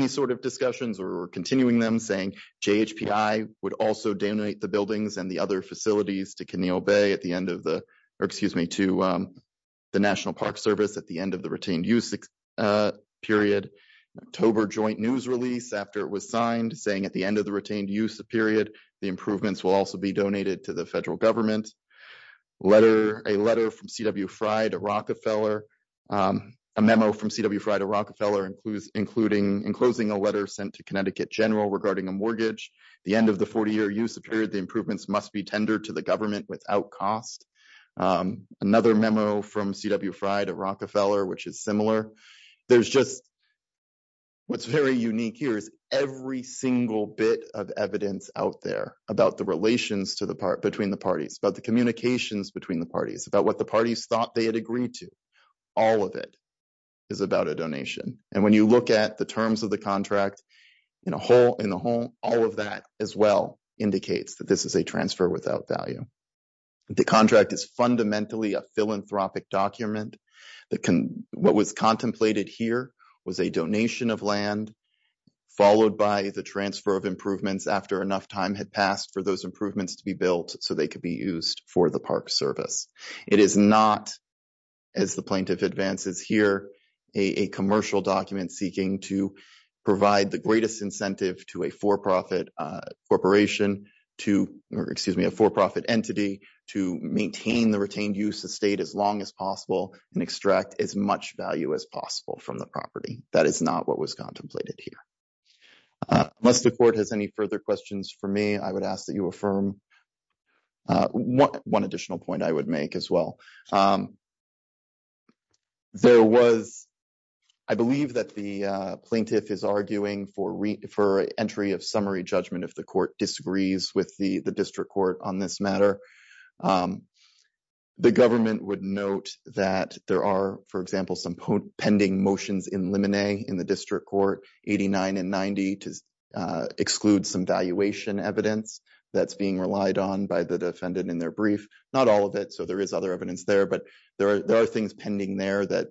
these sort of discussions or continuing them saying JHPI would also donate the buildings and the other facilities to Keneal Bay at the end of the, or excuse me, to the National Park Service at the end of the retained use period. October joint news release after it was signed saying at the end of the retained use period, the improvements will also be donated to the federal government. A letter from C.W. Fry to Rockefeller, a memo from C.W. Fry to Rockefeller, including in closing a letter sent to Connecticut general regarding a mortgage, the end of the 40-year use of period, the improvements must be tendered to the government without cost. Another memo from C.W. Fry to Rockefeller, which is similar. There's just, what's very unique here is every single bit of evidence out there about the relations to the part between the parties, about the communications between the parties, about what the parties thought they had agreed to. All of it is about a donation. And when you look at the terms of the contract in the whole, all of that as well indicates that this is a transfer without value. The contract is fundamentally a philanthropic document that can, what was contemplated here was a donation of land followed by the transfer of improvements after enough time had passed for those improvements to be built so they could be for the park service. It is not, as the plaintiff advances here, a commercial document seeking to provide the greatest incentive to a for-profit corporation to, or excuse me, a for-profit entity to maintain the retained use of state as long as possible and extract as much value as possible from the property. That is not what was contemplated here. Unless the court has any questions for me, I would ask that you affirm one additional point I would make as well. There was, I believe that the plaintiff is arguing for entry of summary judgment if the court disagrees with the district court on this matter. The government would note that there are, for evidence that's being relied on by the defendant in their brief, not all of it, so there is other evidence there, but there are things pending there that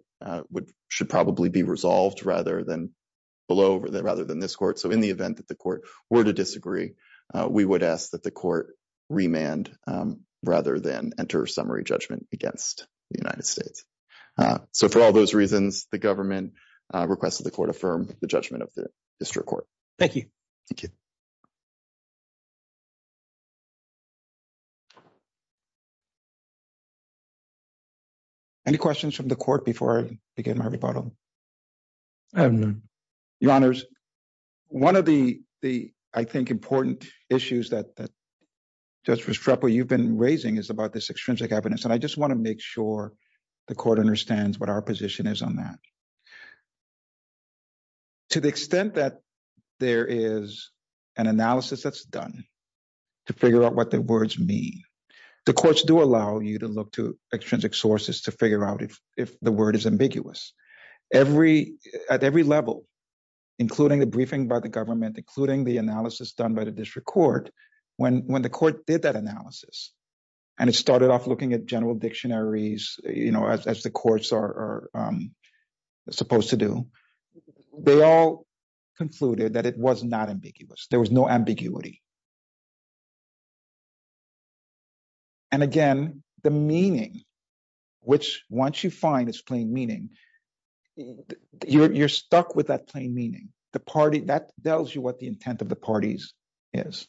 would, should probably be resolved rather than below, rather than this court. So in the event that the court were to disagree, we would ask that the court remand rather than enter summary judgment against the United States. So for all those reasons, the government requested the court affirm the judgment of the district court. Thank you. Thank you. Any questions from the court before I begin my rebuttal? I have none. Your Honors, one of the, I think, important issues that Judge Restrepo, you've been raising is about this extrinsic evidence, and I just want to make sure the court understands what our position is on that. To the extent that there is an analysis that's done to figure out what the words mean, the courts do allow you to look to extrinsic sources to figure out if the word is ambiguous. Every, at every level, including the briefing by the government, including the analysis done by the district court, when the court did that analysis, and it started off looking at general dictionaries, you know, as the courts are supposed to do, they all concluded that it was not ambiguous. There was no ambiguity. And again, the meaning, which once you find its plain meaning, you're stuck with that plain meaning. The party, that tells you what the intent of the parties is.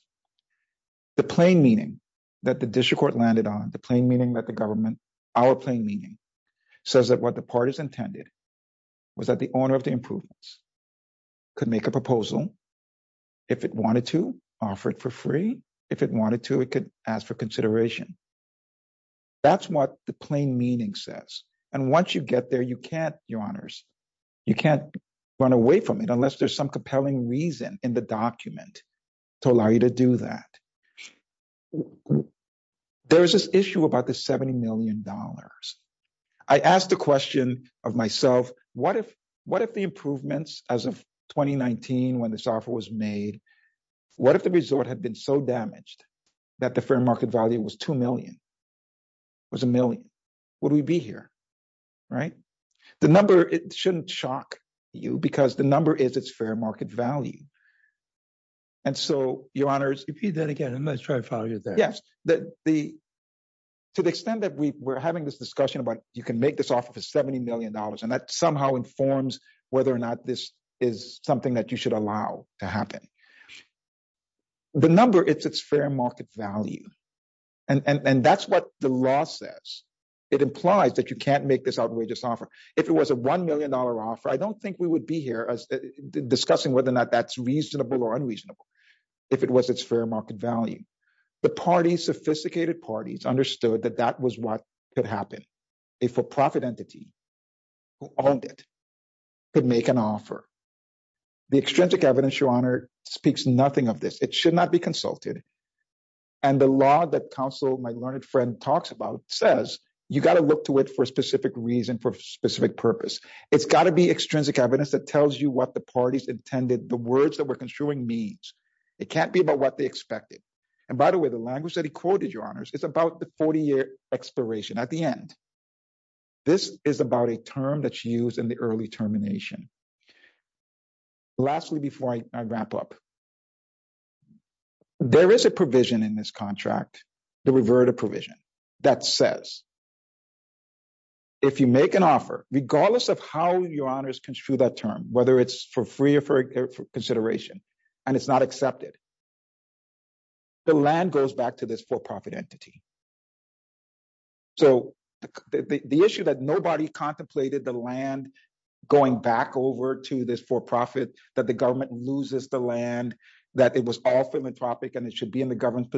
The plain meaning that the district court landed on, the plain our plain meaning, says that what the parties intended was that the owner of the improvements could make a proposal. If it wanted to, offer it for free. If it wanted to, it could ask for consideration. That's what the plain meaning says. And once you get there, you can't, Your Honors, you can't run away from it unless there's some compelling reason in the document to allow you to do that. There's this issue about the $70 million. I asked the question of myself, what if, what if the improvements as of 2019, when this offer was made, what if the resort had been so damaged that the fair market value was 2 million, was a million, would we be here? Right? The number, it shouldn't shock you because the number is it's fair market value. And so Your Honors. Repeat that again. I'm going to try to follow you there. Yes. The, to the extent that we were having this discussion about, you can make this offer for $70 million and that somehow informs whether or not this is something that you should allow to happen. The number it's, it's fair market value. And that's what the law says. It implies that you can't make this outrageous offer. If it was a $1 million offer, I don't think we would be here as discussing whether or not that's reasonable or unreasonable. If it was its fair market value, the parties, sophisticated parties understood that that was what could happen. A for-profit entity who owned it could make an offer. The extrinsic evidence, Your Honor, speaks nothing of this. It should not be consulted. And the law that counsel, my learned friend talks about says, you got to look to it for a specific reason, for a specific purpose. It's got to be extrinsic evidence that tells you what the parties intended, the words that we're construing means. It can't be about what they expected. And by the way, the language that he quoted, Your Honors, it's about the 40-year expiration at the end. This is about a term that's used in the early termination. Lastly, before I wrap up, there is a provision in this contract, the reverted provision that says, if you make an offer, regardless of how Your Honors construed that term, whether it's for free or for consideration, and it's not accepted, the land goes back to this for-profit entity. So the issue that nobody contemplated the land going back over to this for-profit, that the government loses the land, that it was all philanthropic and it should be in the government's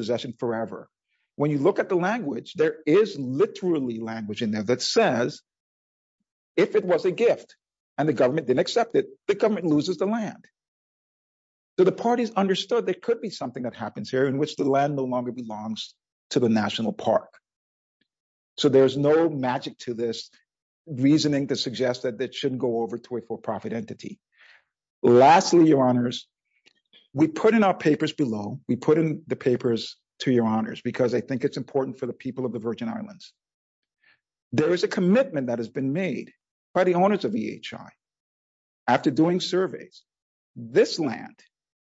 When you look at the language, there is literally language in there that says, if it was a gift and the government didn't accept it, the government loses the land. So the parties understood there could be something that happens here in which the land no longer belongs to the national park. So there's no magic to this reasoning to suggest that it shouldn't go over to a for-profit entity. Lastly, Your Honors, we put in our papers below, we put in the papers to Your Honors, because I think it's important for the people of the Virgin Islands. There is a commitment that has been made by the owners of EHI. After doing surveys, this land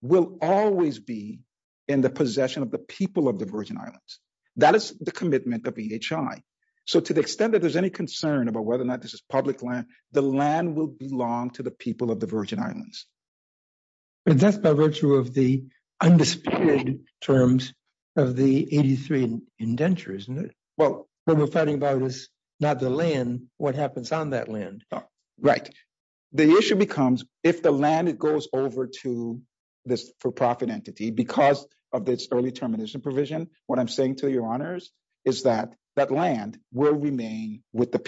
will always be in the possession of the people of the Virgin Islands. That is the commitment of EHI. So to the extent that there's any concern about whether or not this is public land, the land will belong to the people of the Virgin Islands. But that's by virtue of the undisputed terms of the 83 indentures, isn't it? Well, what we're fighting about is not the land, what happens on that land. Right. The issue becomes if the land goes over to this for-profit entity because of this early termination provision, what I'm saying to Your Honors is that that land will remain with the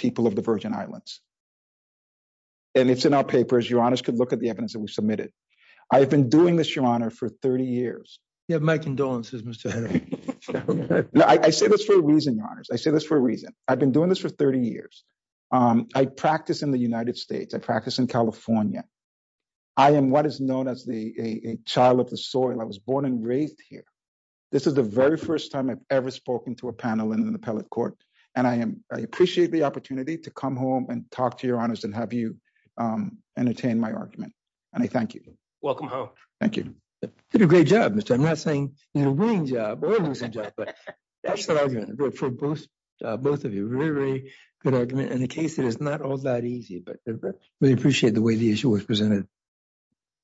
I've been doing this, Your Honor, for 30 years. You have my condolences, Mr. Henry. I say this for a reason, Your Honors. I say this for a reason. I've been doing this for 30 years. I practice in the United States. I practice in California. I am what is known as a child of the soil. I was born and raised here. This is the very first time I've ever spoken to a panel in an appellate court. And I appreciate the opportunity to come home and talk to Your Honors and have you entertain my argument. And I thank you. Welcome home. Thank you. You did a great job, Mr. Henry. I'm not saying a winning job or a losing job, but that's the argument for both of you. Really, really good argument. In the case, it is not all that easy, but I really appreciate the way the issue was presented.